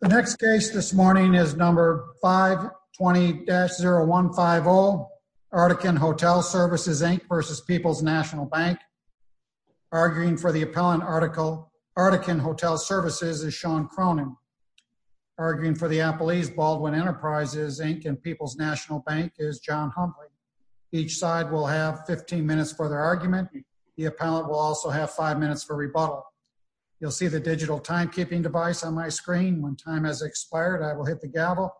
The next case this morning is number 520-0150, Articon Hotel Services, Inc. v. People's National Bank. Arguing for the appellant article, Articon Hotel Services, is Sean Cronin. Arguing for the appellees, Baldwin Enterprises, Inc. and People's National Bank, is John Humbley. Each side will have 15 minutes for their argument. The appellant will also have five minutes for expired. I will hit the gavel.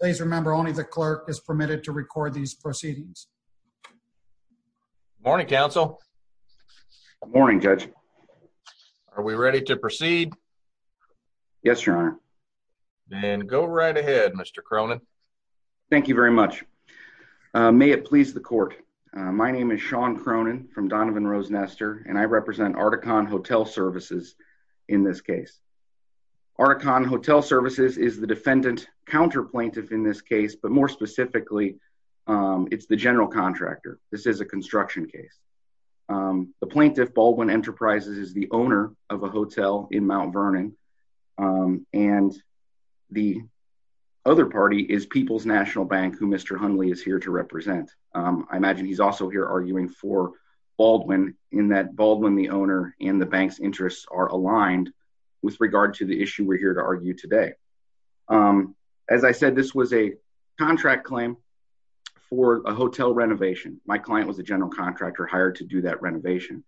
Please remember only the clerk is permitted to record these proceedings. Good morning, counsel. Good morning, judge. Are we ready to proceed? Yes, your honor. Then go right ahead, Mr. Cronin. Thank you very much. May it please the court. My name is Sean Cronin from Donovan Rose Nestor, and I represent Articon Hotel Services in this case. Articon Hotel Services is the defendant counter plaintiff in this case, but more specifically, it's the general contractor. This is a construction case. The plaintiff, Baldwin Enterprises, is the owner of a hotel in Mount Vernon, and the other party is People's National Bank, who Mr. Humbley is here to represent. I imagine he's also here arguing for with regard to the issue we're here to argue today. As I said, this was a contract claim for a hotel renovation. My client was a general contractor hired to do that renovation.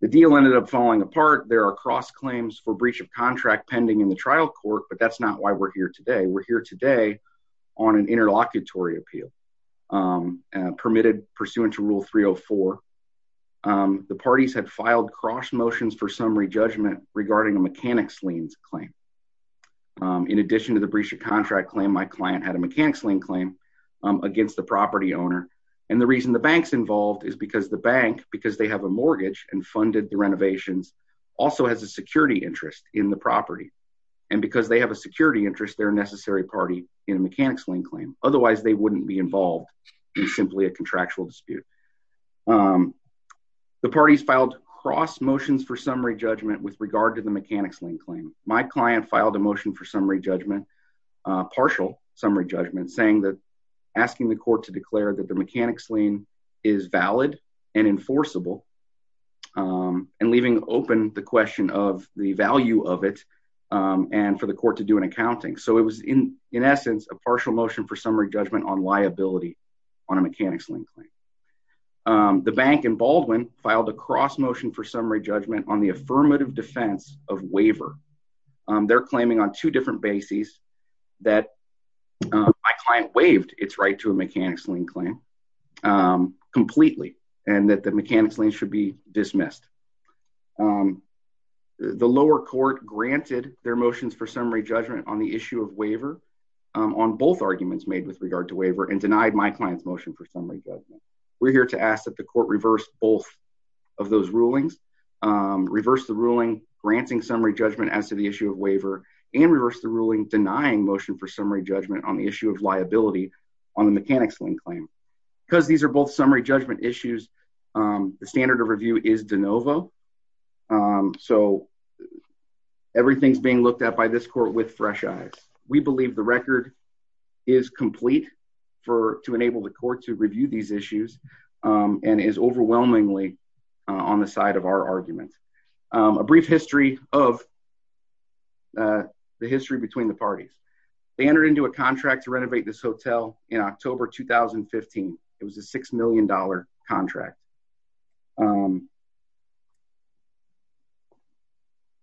The deal ended up falling apart. There are cross claims for breach of contract pending in the trial court, but that's not why we're here today. We're here today on an interlocutory appeal permitted pursuant to Rule 304. The parties had filed cross motions for summary judgment regarding a mechanics liens claim. In addition to the breach of contract claim, my client had a mechanics lien claim against the property owner. The reason the bank's involved is because the bank, because they have a mortgage and funded the renovations, also has a security interest in the property. Because they have a security interest, they're a necessary party in a mechanics lien claim. Otherwise, they wouldn't be involved in simply a contractual dispute. The parties filed cross motions for summary judgment with regard to the mechanics lien claim. My client filed a motion for summary judgment, partial summary judgment, saying that asking the court to declare that the mechanics lien is valid and enforceable and leaving open the question of the value of it and for the court to do an accounting. So, in essence, a partial motion for summary judgment on liability on a mechanics lien claim. The bank in Baldwin filed a cross motion for summary judgment on the affirmative defense of waiver. They're claiming on two different bases that my client waived its right to a mechanics lien claim completely and that the mechanics lien should be dismissed. The lower court granted their motions for summary judgment on the issue of waiver on both arguments made with regard to waiver and denied my client's motion for summary judgment. We're here to ask that the court reverse both of those rulings, reverse the ruling granting summary judgment as to the issue of waiver and reverse the ruling denying motion for summary judgment on the issue of liability on the mechanics lien claim. Because these are both summary judgment issues, the standard of review is de novo. So, everything's being looked at by this court with fresh eyes. We believe the record is complete to enable the court to review these issues and is overwhelmingly on the side of our argument. A brief history of the history between the parties. They entered into a contract to renovate this hotel in October 2015. It was a six million dollar contract.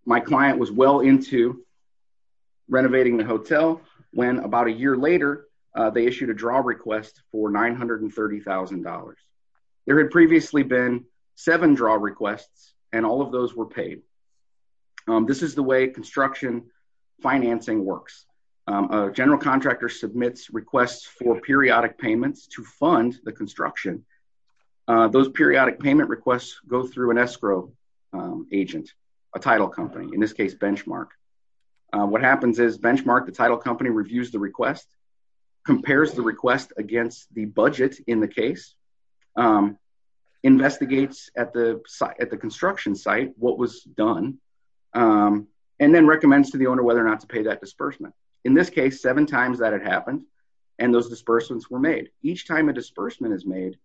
My client was well into renovating the hotel when about a year later they issued a draw request for $930,000. There had previously been seven draw requests and all of those were paid. This is the way construction financing works. A general contractor submits requests for periodic payments to fund the construction. Those periodic payment requests go through an escrow agent, a title company, in this case Benchmark. What happens is Benchmark, the title company, reviews the request, compares the request against the budget in the case, investigates at the construction site what was done, and then recommends to the owner whether or not to pay that disbursement. In this case, seven times that had happened and those disbursements were made. Each time a disbursement is made,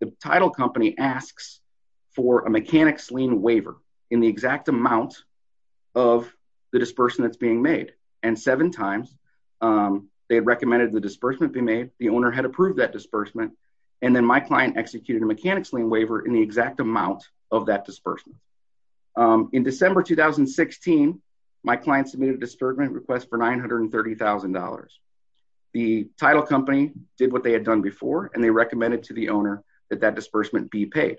the title company asks for a mechanics lien waiver in the exact amount of the disbursement that's being made. Seven times they had recommended the owner had approved that disbursement and then my client executed a mechanics lien waiver in the exact amount of that disbursement. In December 2016, my client submitted a disbursement request for $930,000. The title company did what they had done before and they recommended to the owner that that disbursement be paid.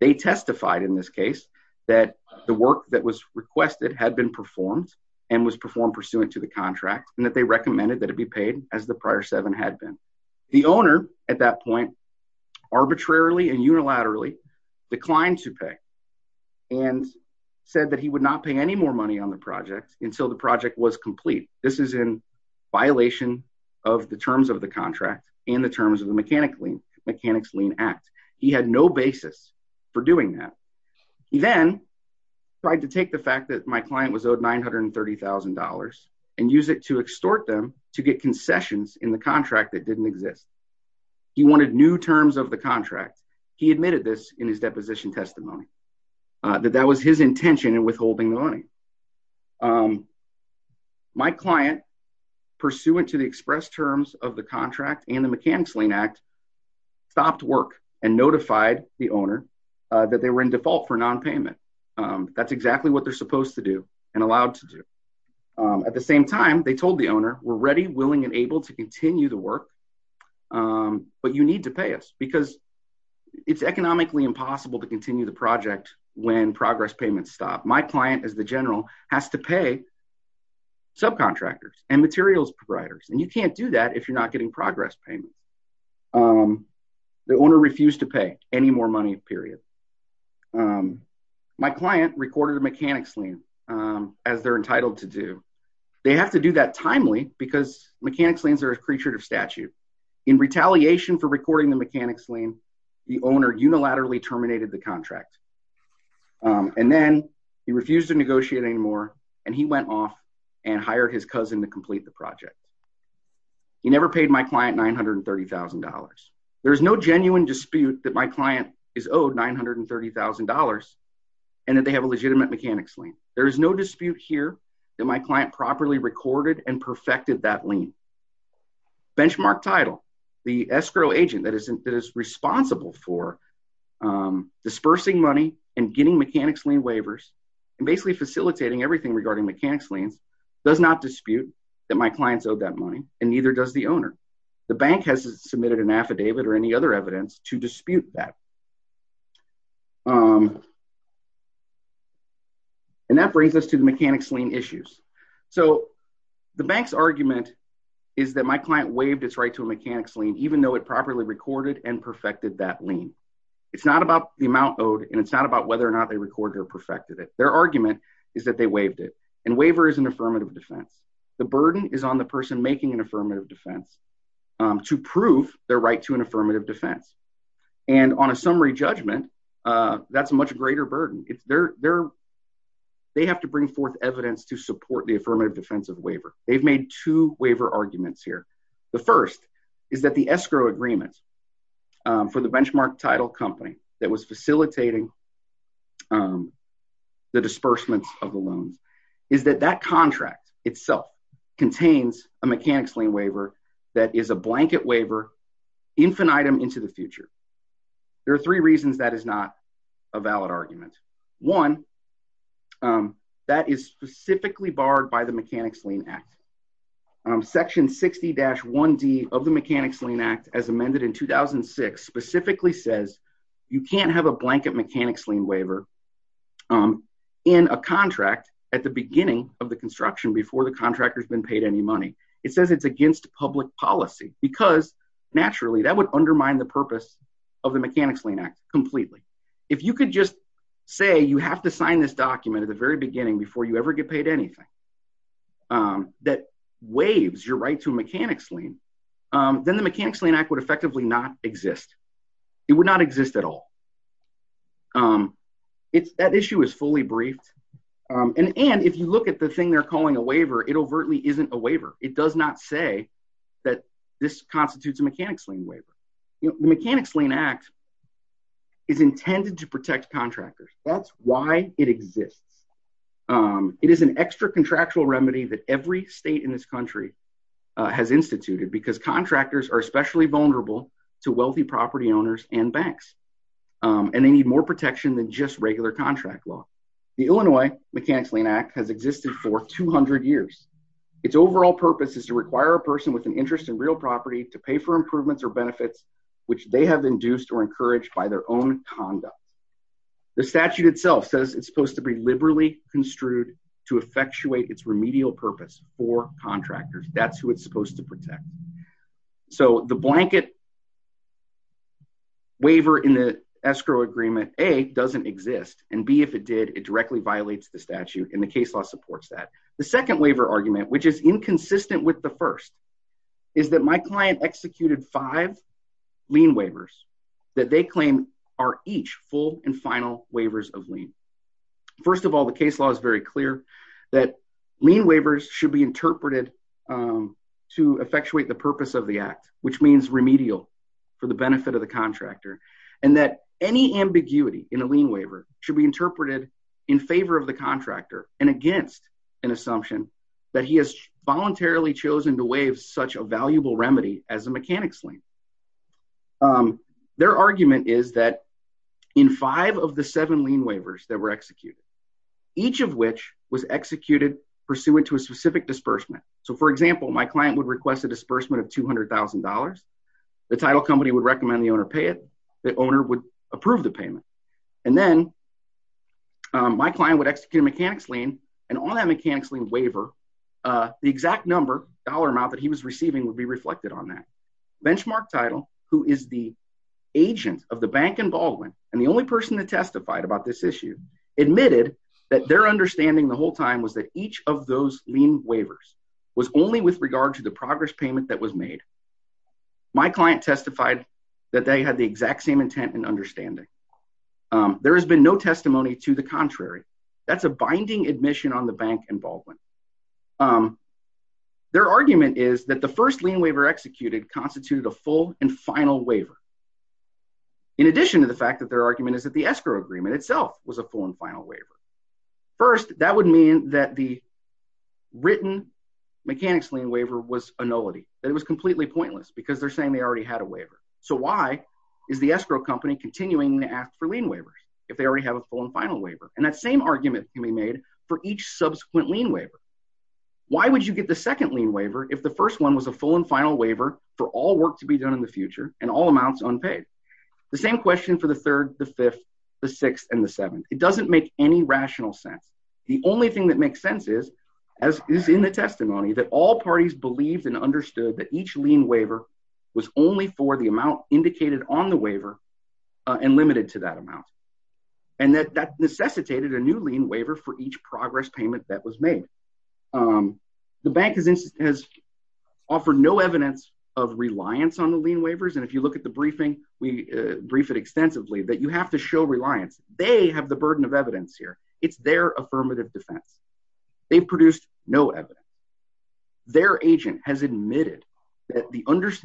They testified in this case that the work that was requested had been performed and was performed pursuant to the contract and that they recommended that it be paid as the prior seven had been. The owner at that point arbitrarily and unilaterally declined to pay and said that he would not pay any more money on the project until the project was complete. This is in violation of the terms of the contract and the terms of the mechanics lien act. He had no basis for doing that. He then tried to take the fact that my client was owed $930,000 and use it to extort them to get concessions in the contract that didn't exist. He wanted new terms of the contract. He admitted this in his deposition testimony that that was his intention in withholding the money. My client pursuant to the express terms of the contract and the mechanics lien act stopped work and notified the owner that they were in default for non-payment. That's exactly what they're supposed to do and allowed to do. At the same time, they told the owner we're ready, willing, and able to continue the work but you need to pay us because it's economically impossible to continue the project when progress payments stop. My client as the general has to pay subcontractors and materials providers and you can't do that if you're not getting progress payment. The owner refused to They have to do that timely because mechanics liens are a creature of statute. In retaliation for recording the mechanics lien, the owner unilaterally terminated the contract and then he refused to negotiate anymore and he went off and hired his cousin to complete the project. He never paid my client $930,000. There's no genuine dispute that my client is owed $930,000 and that they have a legitimate mechanics lien. There is no dispute here that my client properly recorded and perfected that lien. Benchmark title, the escrow agent that is responsible for dispersing money and getting mechanics lien waivers and basically facilitating everything regarding mechanics liens does not dispute that my client's owed that money and neither does the owner. The bank hasn't submitted an affidavit or any other evidence to dispute that and that brings us to the mechanics lien issues. So the bank's argument is that my client waived its right to a mechanics lien, even though it properly recorded and perfected that lien. It's not about the amount owed and it's not about whether or not they recorded or perfected it. Their argument is that they waived it and waiver is an affirmative defense. The burden is on the person making an affirmative defense to prove their right to an affirmative defense. And on a summary judgment, that's a much greater burden. They have to bring forth evidence to support the affirmative defensive waiver. They've made two waiver arguments here. The first is that the escrow agreement for the benchmark title company that was facilitating the disbursements of the loans is that that contract itself contains a mechanics lien waiver that is a blanket waiver infinitum into the future. There are three reasons that is not a valid argument. One, that is specifically barred by the mechanics lien act. Section 60-1d of the mechanics lien act as amended in 2006 specifically says you can't have a blanket mechanics lien waiver in a contract at the beginning of the construction before the policy because naturally that would undermine the purpose of the mechanics lien act completely. If you could just say you have to sign this document at the very beginning before you ever get paid anything that waives your right to mechanics lien, then the mechanics lien act would effectively not exist. It would not exist at all. That issue is fully briefed. And if you look at the thing they're calling a waiver, it overtly isn't a waiver. It does not say that this constitutes a mechanics lien waiver. The mechanics lien act is intended to protect contractors. That's why it exists. It is an extra contractual remedy that every state in this country has instituted because contractors are especially vulnerable to wealthy property owners and banks. And they need more protection than just regular contract law. The Illinois mechanics lien act has existed for 200 years. Its overall purpose is to require a person with an interest in real property to pay for improvements or benefits which they have induced or encouraged by their own conduct. The statute itself says it's supposed to be liberally construed to effectuate its remedial purpose for contractors. That's who it's supposed to protect. So the blanket waiver in the escrow agreement, A, doesn't exist. And B, if it did, it directly violates the statute and the case law supports that. The second waiver argument, which is inconsistent with the first, is that my client executed five lien waivers that they claim are each full and final waivers of lien. First of all, the case law is very clear that lien waivers should be interpreted to effectuate the purpose of the act, which means remedial for the benefit of the contractor, and that any ambiguity in a lien waiver should be interpreted in favor of the contractor and against an assumption that he has voluntarily chosen to waive such a valuable remedy as a mechanics lien. Their argument is that in five of the seven lien waivers that were executed, each of which was executed pursuant to a specific disbursement. So for example, my client would request a disbursement of $200,000. The title company would recommend the owner pay it. The owner would approve the payment. And then my client would execute a mechanics lien and on that mechanics lien waiver, the exact number, dollar amount that he was receiving would be reflected on that. Benchmark title, who is the agent of the bank in Baldwin and the only person that testified about this issue admitted that their understanding the whole time was that each of those lien waivers was only with regard to the progress payment that was made. My client testified that they had the exact same intent and understanding. There has been no testimony to the contrary. That's a binding admission on the bank in Baldwin. Their argument is that the first lien waiver executed constituted a full and final waiver. In addition to the fact that their argument is that the escrow agreement itself was a full and final waiver. First, that would mean that the written mechanics lien waiver was a nullity. That it was completely pointless because they're saying they already had a waiver. So why is the escrow company continuing to ask for lien waivers if they already have a full and final waiver? And that same argument can be made for each subsequent lien waiver. Why would you get the second lien waiver if the first one was a full and final waiver for all work to be done in the future and all amounts unpaid? The same question for the third, the fifth, the sixth, and the seventh. It doesn't make any rational sense. The only thing that makes sense is, as is in the testimony, that all parties believed and understood that each lien waiver was only for the amount indicated on the waiver and limited to that amount. And that that necessitated a new lien waiver for each progress payment that was made. The bank has offered no evidence of reliance on the lien waivers. And if you look at the briefing, we briefed it extensively that you have to show reliance. They have the burden of evidence here. It's their affirmative defense. They've produced no evidence. Their agent has admitted that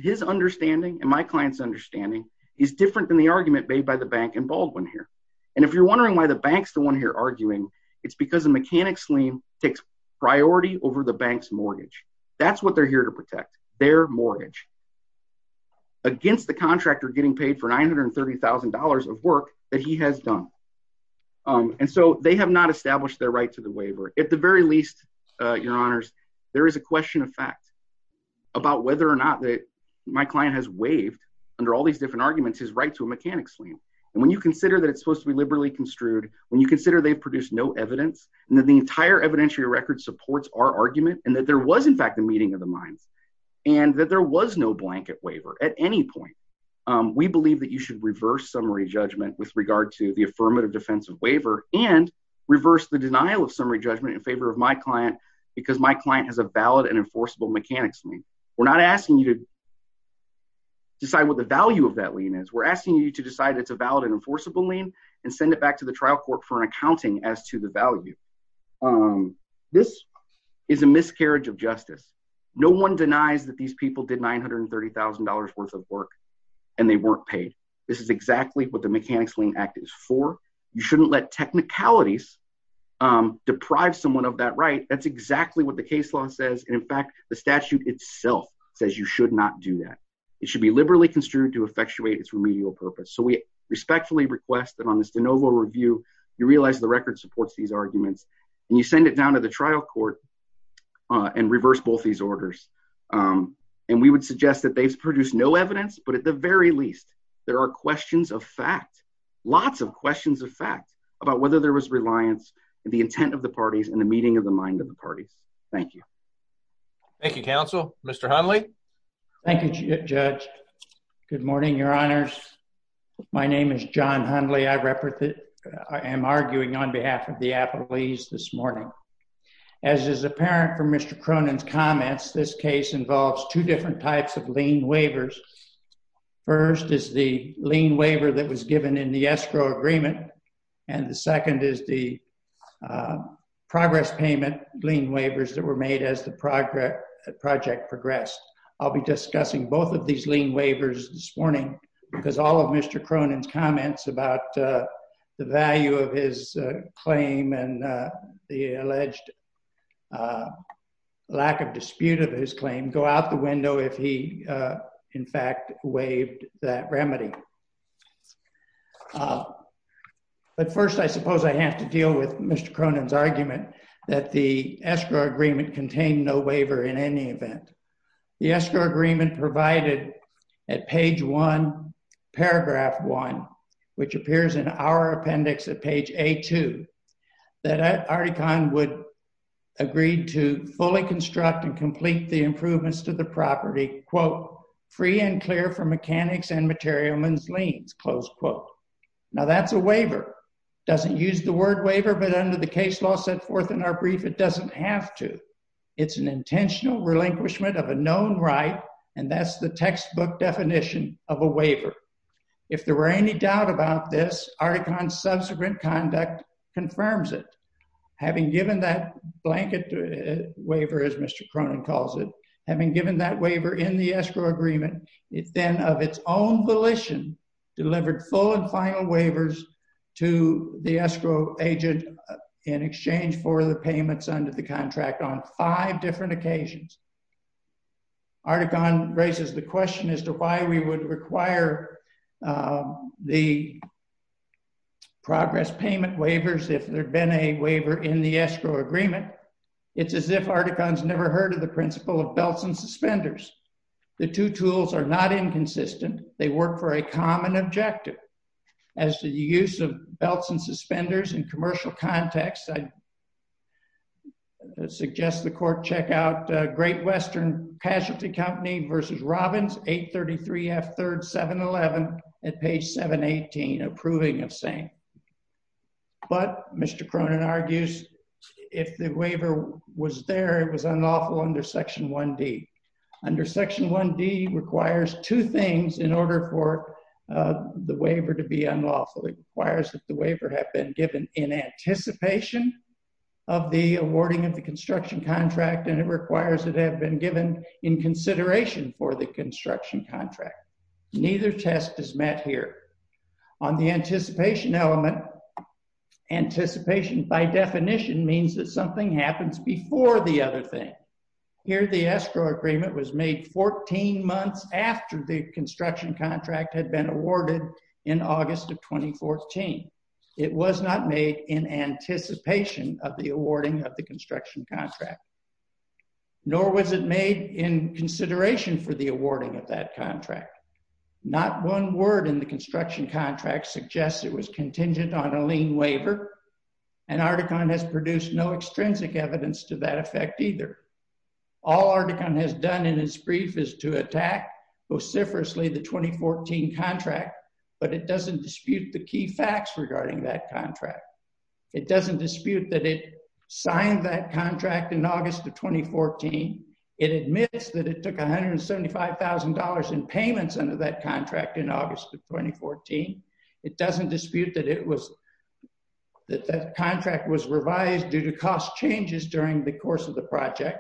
his understanding and my client's understanding is different than the argument made by the bank in Baldwin here. And if you're wondering why the bank's the one here arguing, it's because the mechanics lien takes priority over the bank's against the contractor getting paid for $930,000 of work that he has done. And so they have not established their right to the waiver. At the very least, your honors, there is a question of fact about whether or not that my client has waived under all these different arguments, his right to a mechanics lien. And when you consider that it's supposed to be liberally construed, when you consider they've produced no evidence and that the entire evidentiary record supports our argument and that there was in fact a meeting of the minds and that there was no blanket waiver at any point, we believe that you should reverse summary judgment with regard to the affirmative defensive waiver and reverse the denial of summary judgment in favor of my client because my client has a valid and enforceable mechanics lien. We're not asking you to decide what the value of that lien is. We're asking you to decide it's a valid and enforceable lien and send it back to the trial court for an accounting as to the value. Um, this is a miscarriage of justice. No one denies that these people did $930,000 worth of work and they weren't paid. This is exactly what the mechanics lien act is for. You shouldn't let technicalities, um, deprive someone of that, right? That's exactly what the case law says. And in fact, the statute itself says you should not do that. It should be liberally construed to effectuate its remedial purpose. So we respectfully request that on this de novo review, you realize the record supports these arguments and you send it down to the trial court and reverse both these orders. Um, and we would suggest that they've produced no evidence, but at the very least, there are questions of fact, lots of questions of fact about whether there was reliance and the intent of the parties and the meeting of the mind of the parties. Thank you. Thank you, counsel. Mr. Hundley. Thank you, judge. Good morning, your honors. My name is John Hundley. I represent, I am arguing on behalf of the appellees this morning. As is apparent from Mr. Cronin's comments, this case involves two different types of lien waivers. First is the lien waiver that was given in the escrow agreement. And the second is the, uh, progress payment lien waivers that were made as the project progressed. I'll be discussing both of these lien waivers this morning because all of Mr. Cronin's comments about, uh, the value of his, uh, claim and, uh, the alleged, uh, lack of dispute of his claim go out the window if he, uh, in fact waived that remedy. Uh, but first I suppose I have to deal with Mr. Cronin's argument that the escrow agreement contained no waiver in any event. The escrow agreement provided at page one, paragraph one, which appears in our appendix at page A2, that Articon would agree to fully construct and complete the improvements to the property, quote, free and clear from mechanics and material men's liens, close quote. Now that's a waiver. Doesn't use the word waiver, but under case law set forth in our brief, it doesn't have to. It's an intentional relinquishment of a known right, and that's the textbook definition of a waiver. If there were any doubt about this, Articon's subsequent conduct confirms it. Having given that blanket waiver, as Mr. Cronin calls it, having given that waiver in the escrow agreement, it then of its own volition delivered full and agent in exchange for the payments under the contract on five different occasions. Articon raises the question as to why we would require, uh, the progress payment waivers if there'd been a waiver in the escrow agreement. It's as if Articon's never heard of the principle of belts and suspenders. The two tools are not inconsistent. They work for a common objective as to the use of belts and suspenders in commercial context. I'd suggest the court check out Great Western Casualty Company versus Robbins 833 F 3rd 711 at page 718 approving of same. But Mr. Cronin argues if the waiver was there, it was unlawful under Section 1D. Under Section 1D requires two things in order for, uh, the waiver to be unlawful. It requires that the waiver have been given in anticipation of the awarding of the construction contract, and it requires it have been given in consideration for the construction contract. Neither test is met here on the anticipation element. Anticipation by definition means that something happens before the other thing. Here the escrow agreement was made 14 months after the construction contract had been awarded in August of 2014. It was not made in anticipation of the awarding of the construction contract, nor was it made in consideration for the awarding of that contract. Not one word in the construction contract suggests it was contingent on a lien waiver, and Articon has produced no extrinsic evidence to that effect either. All Articon has done in its brief is to attack vociferously the 2014 contract, but it doesn't dispute the key facts regarding that contract. It doesn't dispute that it signed that contract in August of 2014. It admits that it took $175,000 in payments under that contract in August of 2014. It doesn't dispute that it was that that contract was revised due to cost changes during the course of the project,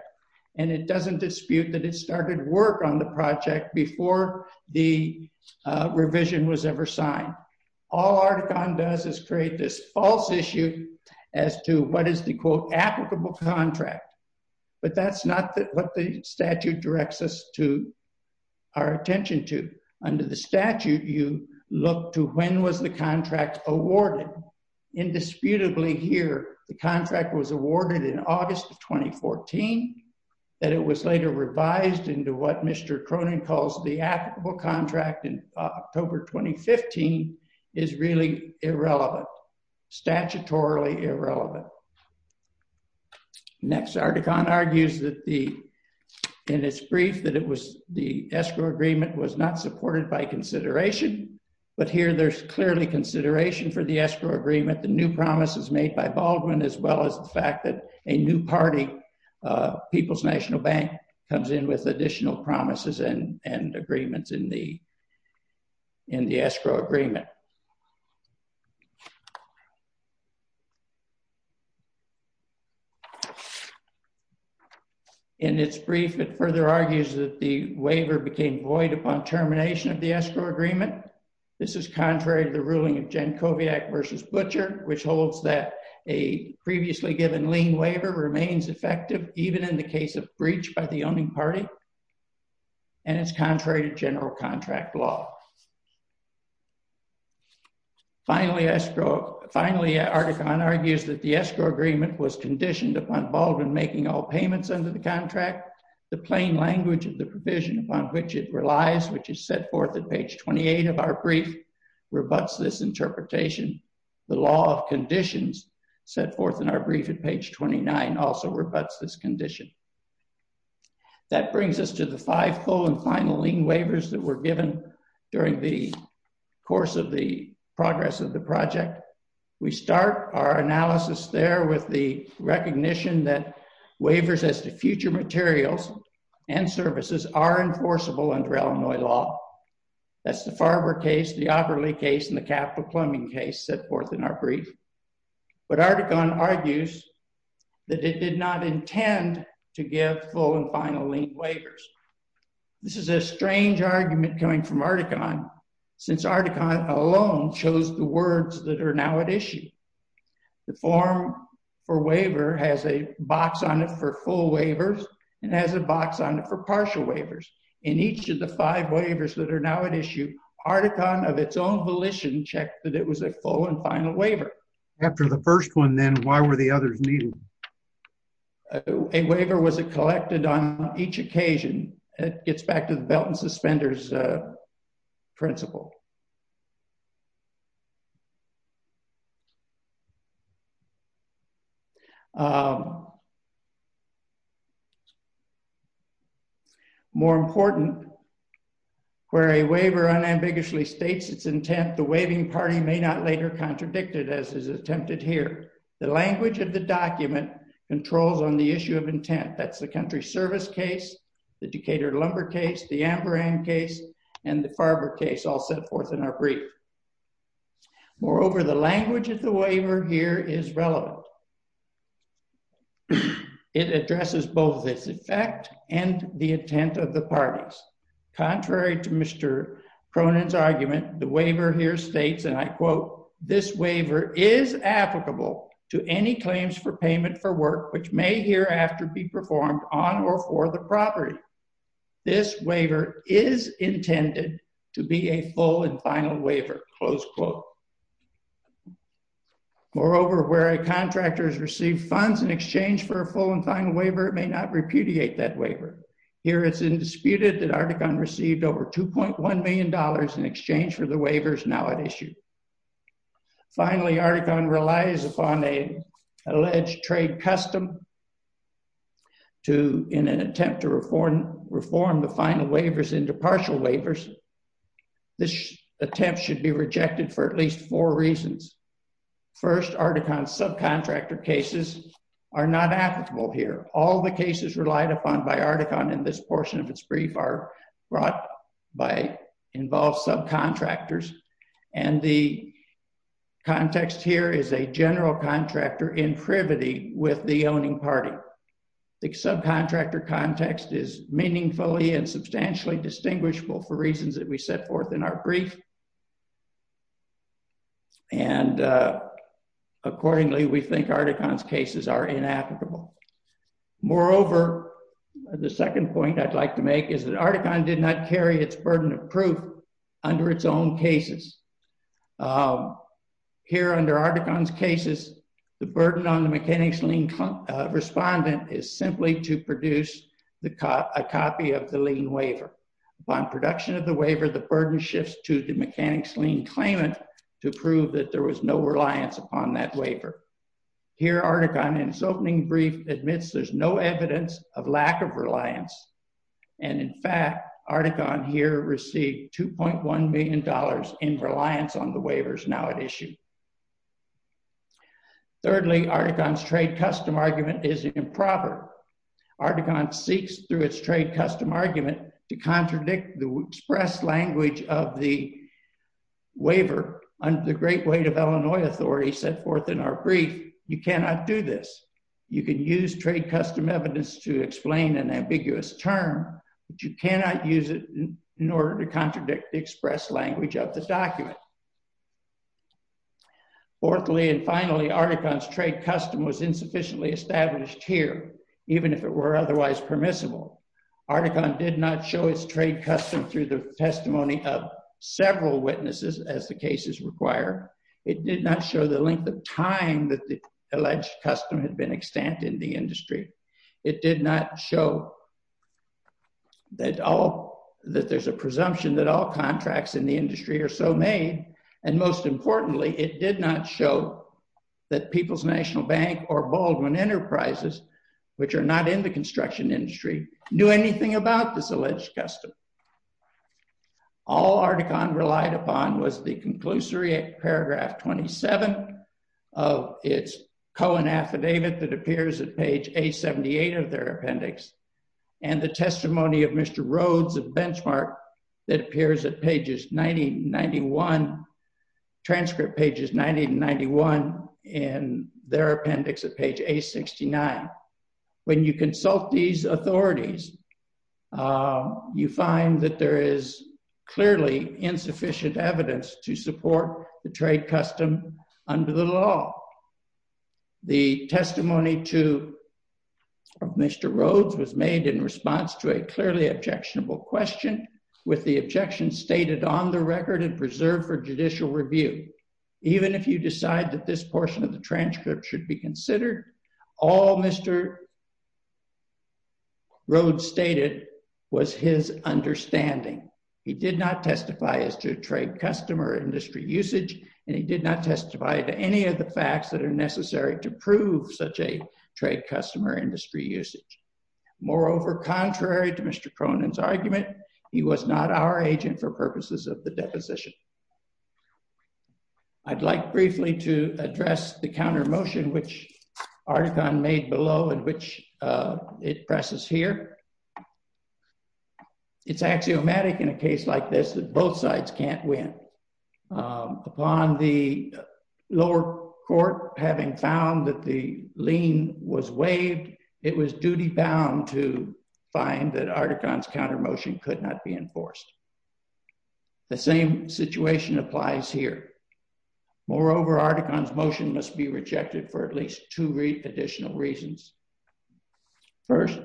and it doesn't dispute that it started work on the project before the revision was ever signed. All Articon does is create this false issue as to what is the quote applicable contract, but that's not that what the statute directs us to our attention to. Under the statute you look to when was the contract awarded. Indisputably here the contract was awarded in August of 2014, that it was later revised into what Mr. Cronin calls the applicable contract in October 2015 is really irrelevant, statutorily irrelevant. Next Articon argues that the, in its brief, that it was the escrow agreement was not supported by consideration, but here there's clearly consideration for the escrow agreement, the new promises made by Baldwin as well as the fact that a new party, People's National Bank, comes in with additional promises and agreements in the escrow agreement. In its brief it further argues that the waiver became void upon termination of the escrow agreement. This is contrary to the ruling of Jankowiak versus Butcher, which holds that a previously given lien waiver remains effective even in the case of breach by the owning party. And it's contrary to general contract law. Finally, Articon argues that the escrow agreement was conditioned upon Baldwin making all payments under the contract. The plain language of the provision upon which it relies, which is set forth at page 28 of our brief, rebuts this interpretation. The law of conditions set That brings us to the five full and final lien waivers that were given during the course of the progress of the project. We start our analysis there with the recognition that waivers as to future materials and services are enforceable under Illinois law. That's the Farber case, the Opperley case, and the Capital Plumbing case set forth in our brief. But Articon argues that it did not intend to give full and final lien waivers. This is a strange argument coming from Articon since Articon alone chose the words that are now at issue. The form for waiver has a box on it for full waivers and has a box on it for partial waivers. In each of the five waivers that are now at issue, Articon of its own volition checked that it was a full and final waiver. After the first one then, why were the others needed? A waiver was collected on each occasion. It gets back to the belt and suspenders principle. More important, where a waiver unambiguously states its intent, the waiving party may not later contradict it as is attempted here. The language of the document controls on the issue of intent. That's the Country Service case, the Decatur Lumber case, the Ambrang case, and the Farber case all set forth in our brief. Moreover, the language of the waiver here is relevant. It addresses both its effect and the intent of the parties. Contrary to Mr. Cronin's argument, the waiver here states, and I quote, this waiver is applicable to any claims for payment for work which may hereafter be performed on or for the property. This waiver is intended to be a full and final waiver, close quote. Moreover, where a contractor has received funds in exchange for a full and final waiver, it may not repudiate that waiver. Here it's indisputed that Articon received over 2.1 million dollars in exchange for the waivers now at issue. Finally, Articon relies upon a alleged trade custom to, in an attempt to reform the final waivers into partial waivers. This attempt should be rejected for at least four reasons. First, Articon's subcontractor cases are not applicable here. All the cases relied upon by Articon in this portion of its brief are brought by involved subcontractors, and the context here is a general contractor in privity with the owning party. The subcontractor context is meaningfully and substantially distinguishable for reasons that we set forth in our brief, and accordingly we think Articon's cases are inapplicable. Moreover, the second point I'd like to make is that Articon did not carry its burden of proof under its own cases. Here under Articon's cases, the burden on the mechanics lien respondent is simply to produce a copy of the lien waiver. Upon production of the waiver, the burden shifts to the mechanics lien claimant to prove that there was no reliance upon that waiver. Here Articon, in its opening brief, admits there's no evidence of lack of reliance, and in fact Articon here received 2.1 million dollars in reliance on the waivers now at issue. Thirdly, Articon's trade custom argument is improper. Articon seeks through its trade custom argument to contradict the express language of the waiver under the great weight of Illinois authority set forth in our You can use trade custom evidence to explain an ambiguous term, but you cannot use it in order to contradict the express language of the document. Fourthly and finally, Articon's trade custom was insufficiently established here, even if it were otherwise permissible. Articon did not show its trade custom through the testimony of several witnesses, as the cases require. It did not show the length of time that the custom had been extant in the industry. It did not show that there's a presumption that all contracts in the industry are so made, and most importantly it did not show that People's National Bank or Baldwin Enterprises, which are not in the construction industry, knew anything about this alleged custom. All Articon relied upon was the conclusory paragraph 27 of its affidavit that appears at page A78 of their appendix, and the testimony of Mr. Rhodes at Benchmark that appears at pages 90 and 91, transcript pages 90 and 91, and their appendix at page A69. When you consult these authorities, you find that there is clearly insufficient evidence to support the trade custom under the law. The testimony to Mr. Rhodes was made in response to a clearly objectionable question, with the objection stated on the record and preserved for judicial review. Even if you decide that this portion of the transcript should be customer industry usage, and he did not testify to any of the facts that are necessary to prove such a trade customer industry usage. Moreover, contrary to Mr. Cronin's argument, he was not our agent for purposes of the deposition. I'd like briefly to address the counter motion which Articon made below and which it presses here. It's axiomatic in a case like this that both sides can't win. Upon the lower court having found that the lien was waived, it was duty bound to find that Articon's counter motion could not be enforced. The same situation applies here. Moreover, Articon's motion must be rejected for at least two additional reasons. First,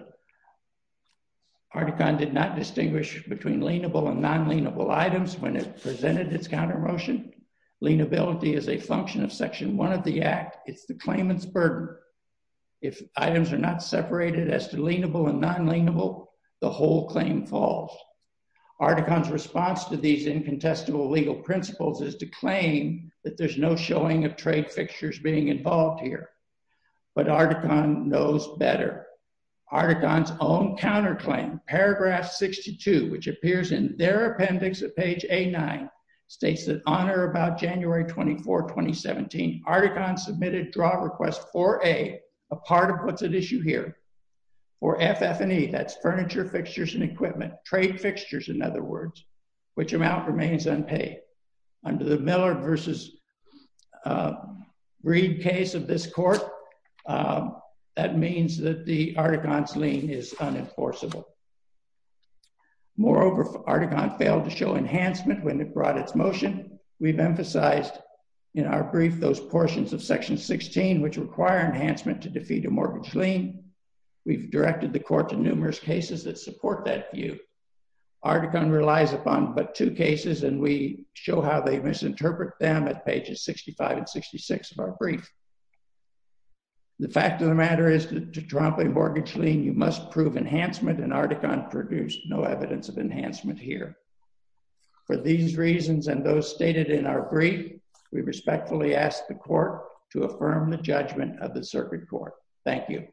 Articon did not distinguish between lienable and non-lienable items when it presented its counter motion. Lienability is a function of section one of the act. It's the claimant's burden. If items are not separated as to lienable and non-lienable, the whole claim falls. Articon's response to these incontestable legal principles is to claim that there's no showing of trade fixtures being involved here. But Articon knows better. Articon's own counter claim, paragraph 62, which appears in their appendix at page A9, states that on or about January 24, 2017, Articon submitted draw request for A, a part of what's at issue here, for F, F, and E, that's furniture fixtures and equipment, trade fixtures, in other words, which amount remains unpaid. Under the Miller versus Reed case of this court, that means that the Articon's lien is unenforceable. Moreover, Articon failed to show enhancement when it brought its motion. We've emphasized in our brief those portions of section 16, which require enhancement to support that view. Articon relies upon but two cases, and we show how they misinterpret them at pages 65 and 66 of our brief. The fact of the matter is that to trump a mortgage lien, you must prove enhancement, and Articon produced no evidence of enhancement here. For these reasons and those stated in our brief, we respectfully ask the court to affirm the judgment of the circuit court. Thank you.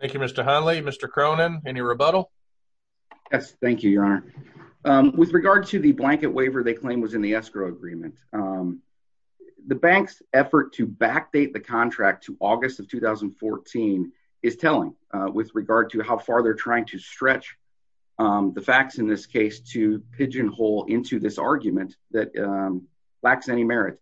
Thank you, Mr. Hundley. Mr. Cronin, any rebuttal? Yes, thank you, your honor. With regard to the blanket waiver they claim was in the escrow agreement, the bank's effort to backdate the contract to August of 2014 is telling with regard to how far they're trying to stretch the facts in this case to pigeonhole into this argument that lacks any merit.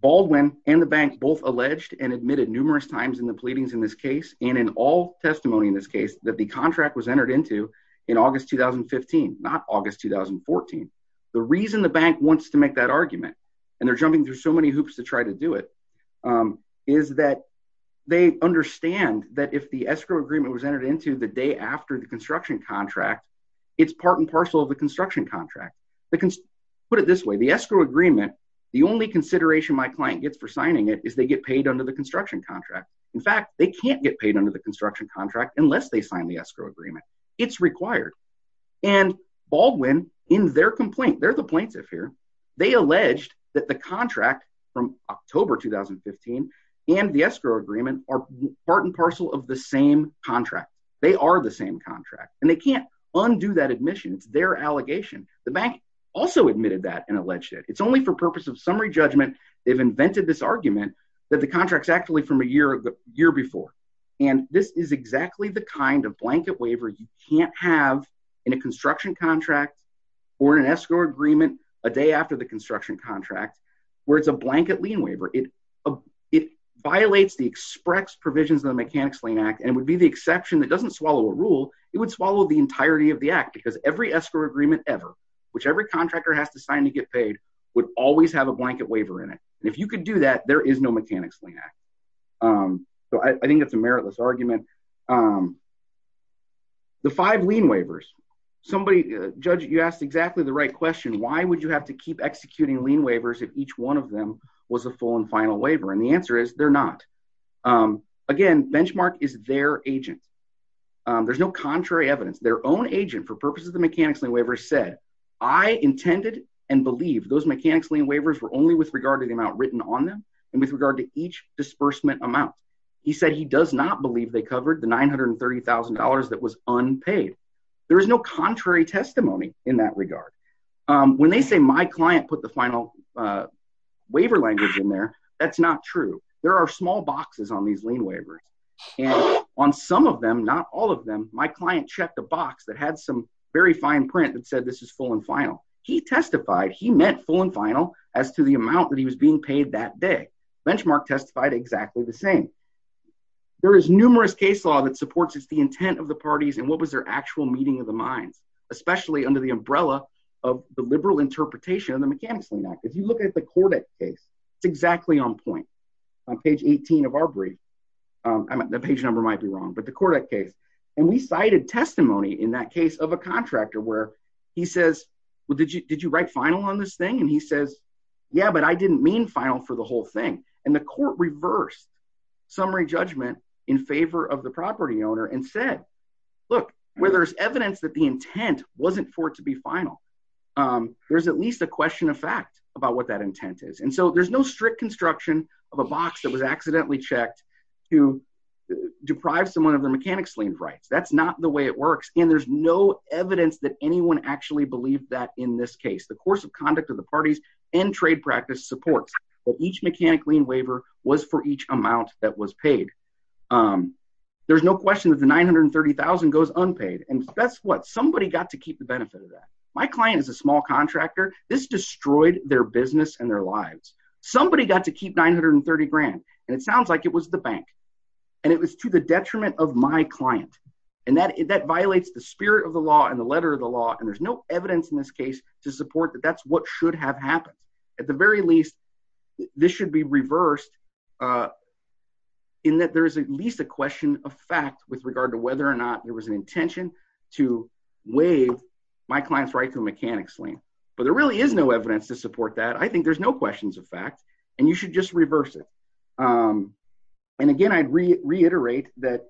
Baldwin and the bank both alleged and admitted numerous times in the pleadings in this case, and in all testimony in this case, that the contract was entered into in August 2015, not August 2014. The reason the bank wants to make that argument, and they're jumping through so many hoops to try to do it, is that they understand that if the escrow agreement was entered into the day after the construction contract, it's part and parcel of the construction contract. Put it this way, the escrow agreement, the only consideration my client gets for signing it is they get paid under the construction contract. In fact, they can't get paid under the construction contract unless they sign the escrow agreement. It's required, and Baldwin in their complaint, they're the plaintiff here, they alleged that the contract from October 2015 and the escrow agreement are part and parcel of the same contract. They are the same contract, and they can't undo that admission. It's their alleged. It's only for purpose of summary judgment. They've invented this argument that the contract's actually from a year before, and this is exactly the kind of blanket waiver you can't have in a construction contract or in an escrow agreement a day after the construction contract, where it's a blanket lien waiver. It violates the express provisions of the Mechanics Lien Act, and it would be the exception that doesn't swallow a rule. It would swallow the entirety of the act, because every escrow agreement ever, which every contractor has to sign to get paid, would always have a blanket waiver in it, and if you could do that, there is no Mechanics Lien Act, so I think it's a meritless argument. The five lien waivers, somebody, judge, you asked exactly the right question. Why would you have to keep executing lien waivers if each one of them was a full and final waiver, and the answer is they're not. Again, Benchmark is their agent. There's no contrary evidence. Their own agent, for purposes of the Mechanics Lien Waiver, said, I intended and believed those Mechanics Lien Waivers were only with regard to the amount written on them and with regard to each disbursement amount. He said he does not believe they covered the $930,000 that was unpaid. There is no contrary testimony in that regard. When they say my client put the final waiver language in there, that's not true. There are small boxes on these lien waivers, and on some of them, not all of them, my client checked a box that had some very fine print that said this is full and final. He testified, he meant full and final as to the amount that he was being paid that day. Benchmark testified exactly the same. There is numerous case law that supports the intent of the parties and what was their actual meeting of the minds, especially under the umbrella of the liberal interpretation of the Mechanics Lien Act. If you look at the Kordek case, it's exactly on point. On page 18 of our brief, the page number might be wrong, but the Kordek case. We cited testimony in that case of a contractor where he says, did you write final on this thing? He says, yeah, but I didn't mean final for the whole thing. The court reversed summary judgment in favor of the property owner and said, look, where there's evidence that the intent wasn't for it to be final, there's at least a question of about what that intent is. And so there's no strict construction of a box that was accidentally checked to deprive someone of their mechanics lien rights. That's not the way it works. And there's no evidence that anyone actually believed that in this case, the course of conduct of the parties and trade practice supports that each mechanic lien waiver was for each amount that was paid. There's no question that the 930,000 goes unpaid. And that's what somebody got to their business and their lives. Somebody got to keep 930 grand. And it sounds like it was the bank and it was to the detriment of my client. And that violates the spirit of the law and the letter of the law. And there's no evidence in this case to support that that's what should have happened. At the very least, this should be reversed in that there's at least a question of fact with regard to whether or not there was an intention to waive my client's right to mechanics lien. But there really is no evidence to support that I think there's no questions of fact, and you should just reverse it. And again, I'd reiterate that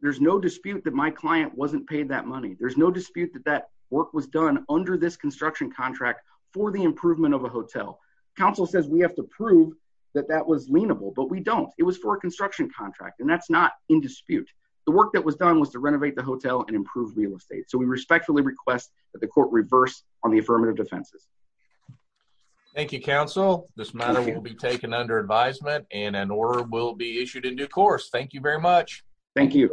there's no dispute that my client wasn't paid that money. There's no dispute that that work was done under this construction contract for the improvement of a hotel. Council says we have to prove that that was leenable, but we don't it was for a construction contract. And that's not in dispute. The work that was done was to renovate the hotel and improve real estate. So we respectfully request that the court reverse on the affirmative defenses. Thank you, counsel. This matter will be taken under advisement and an order will be issued in due course. Thank you very much. Thank you.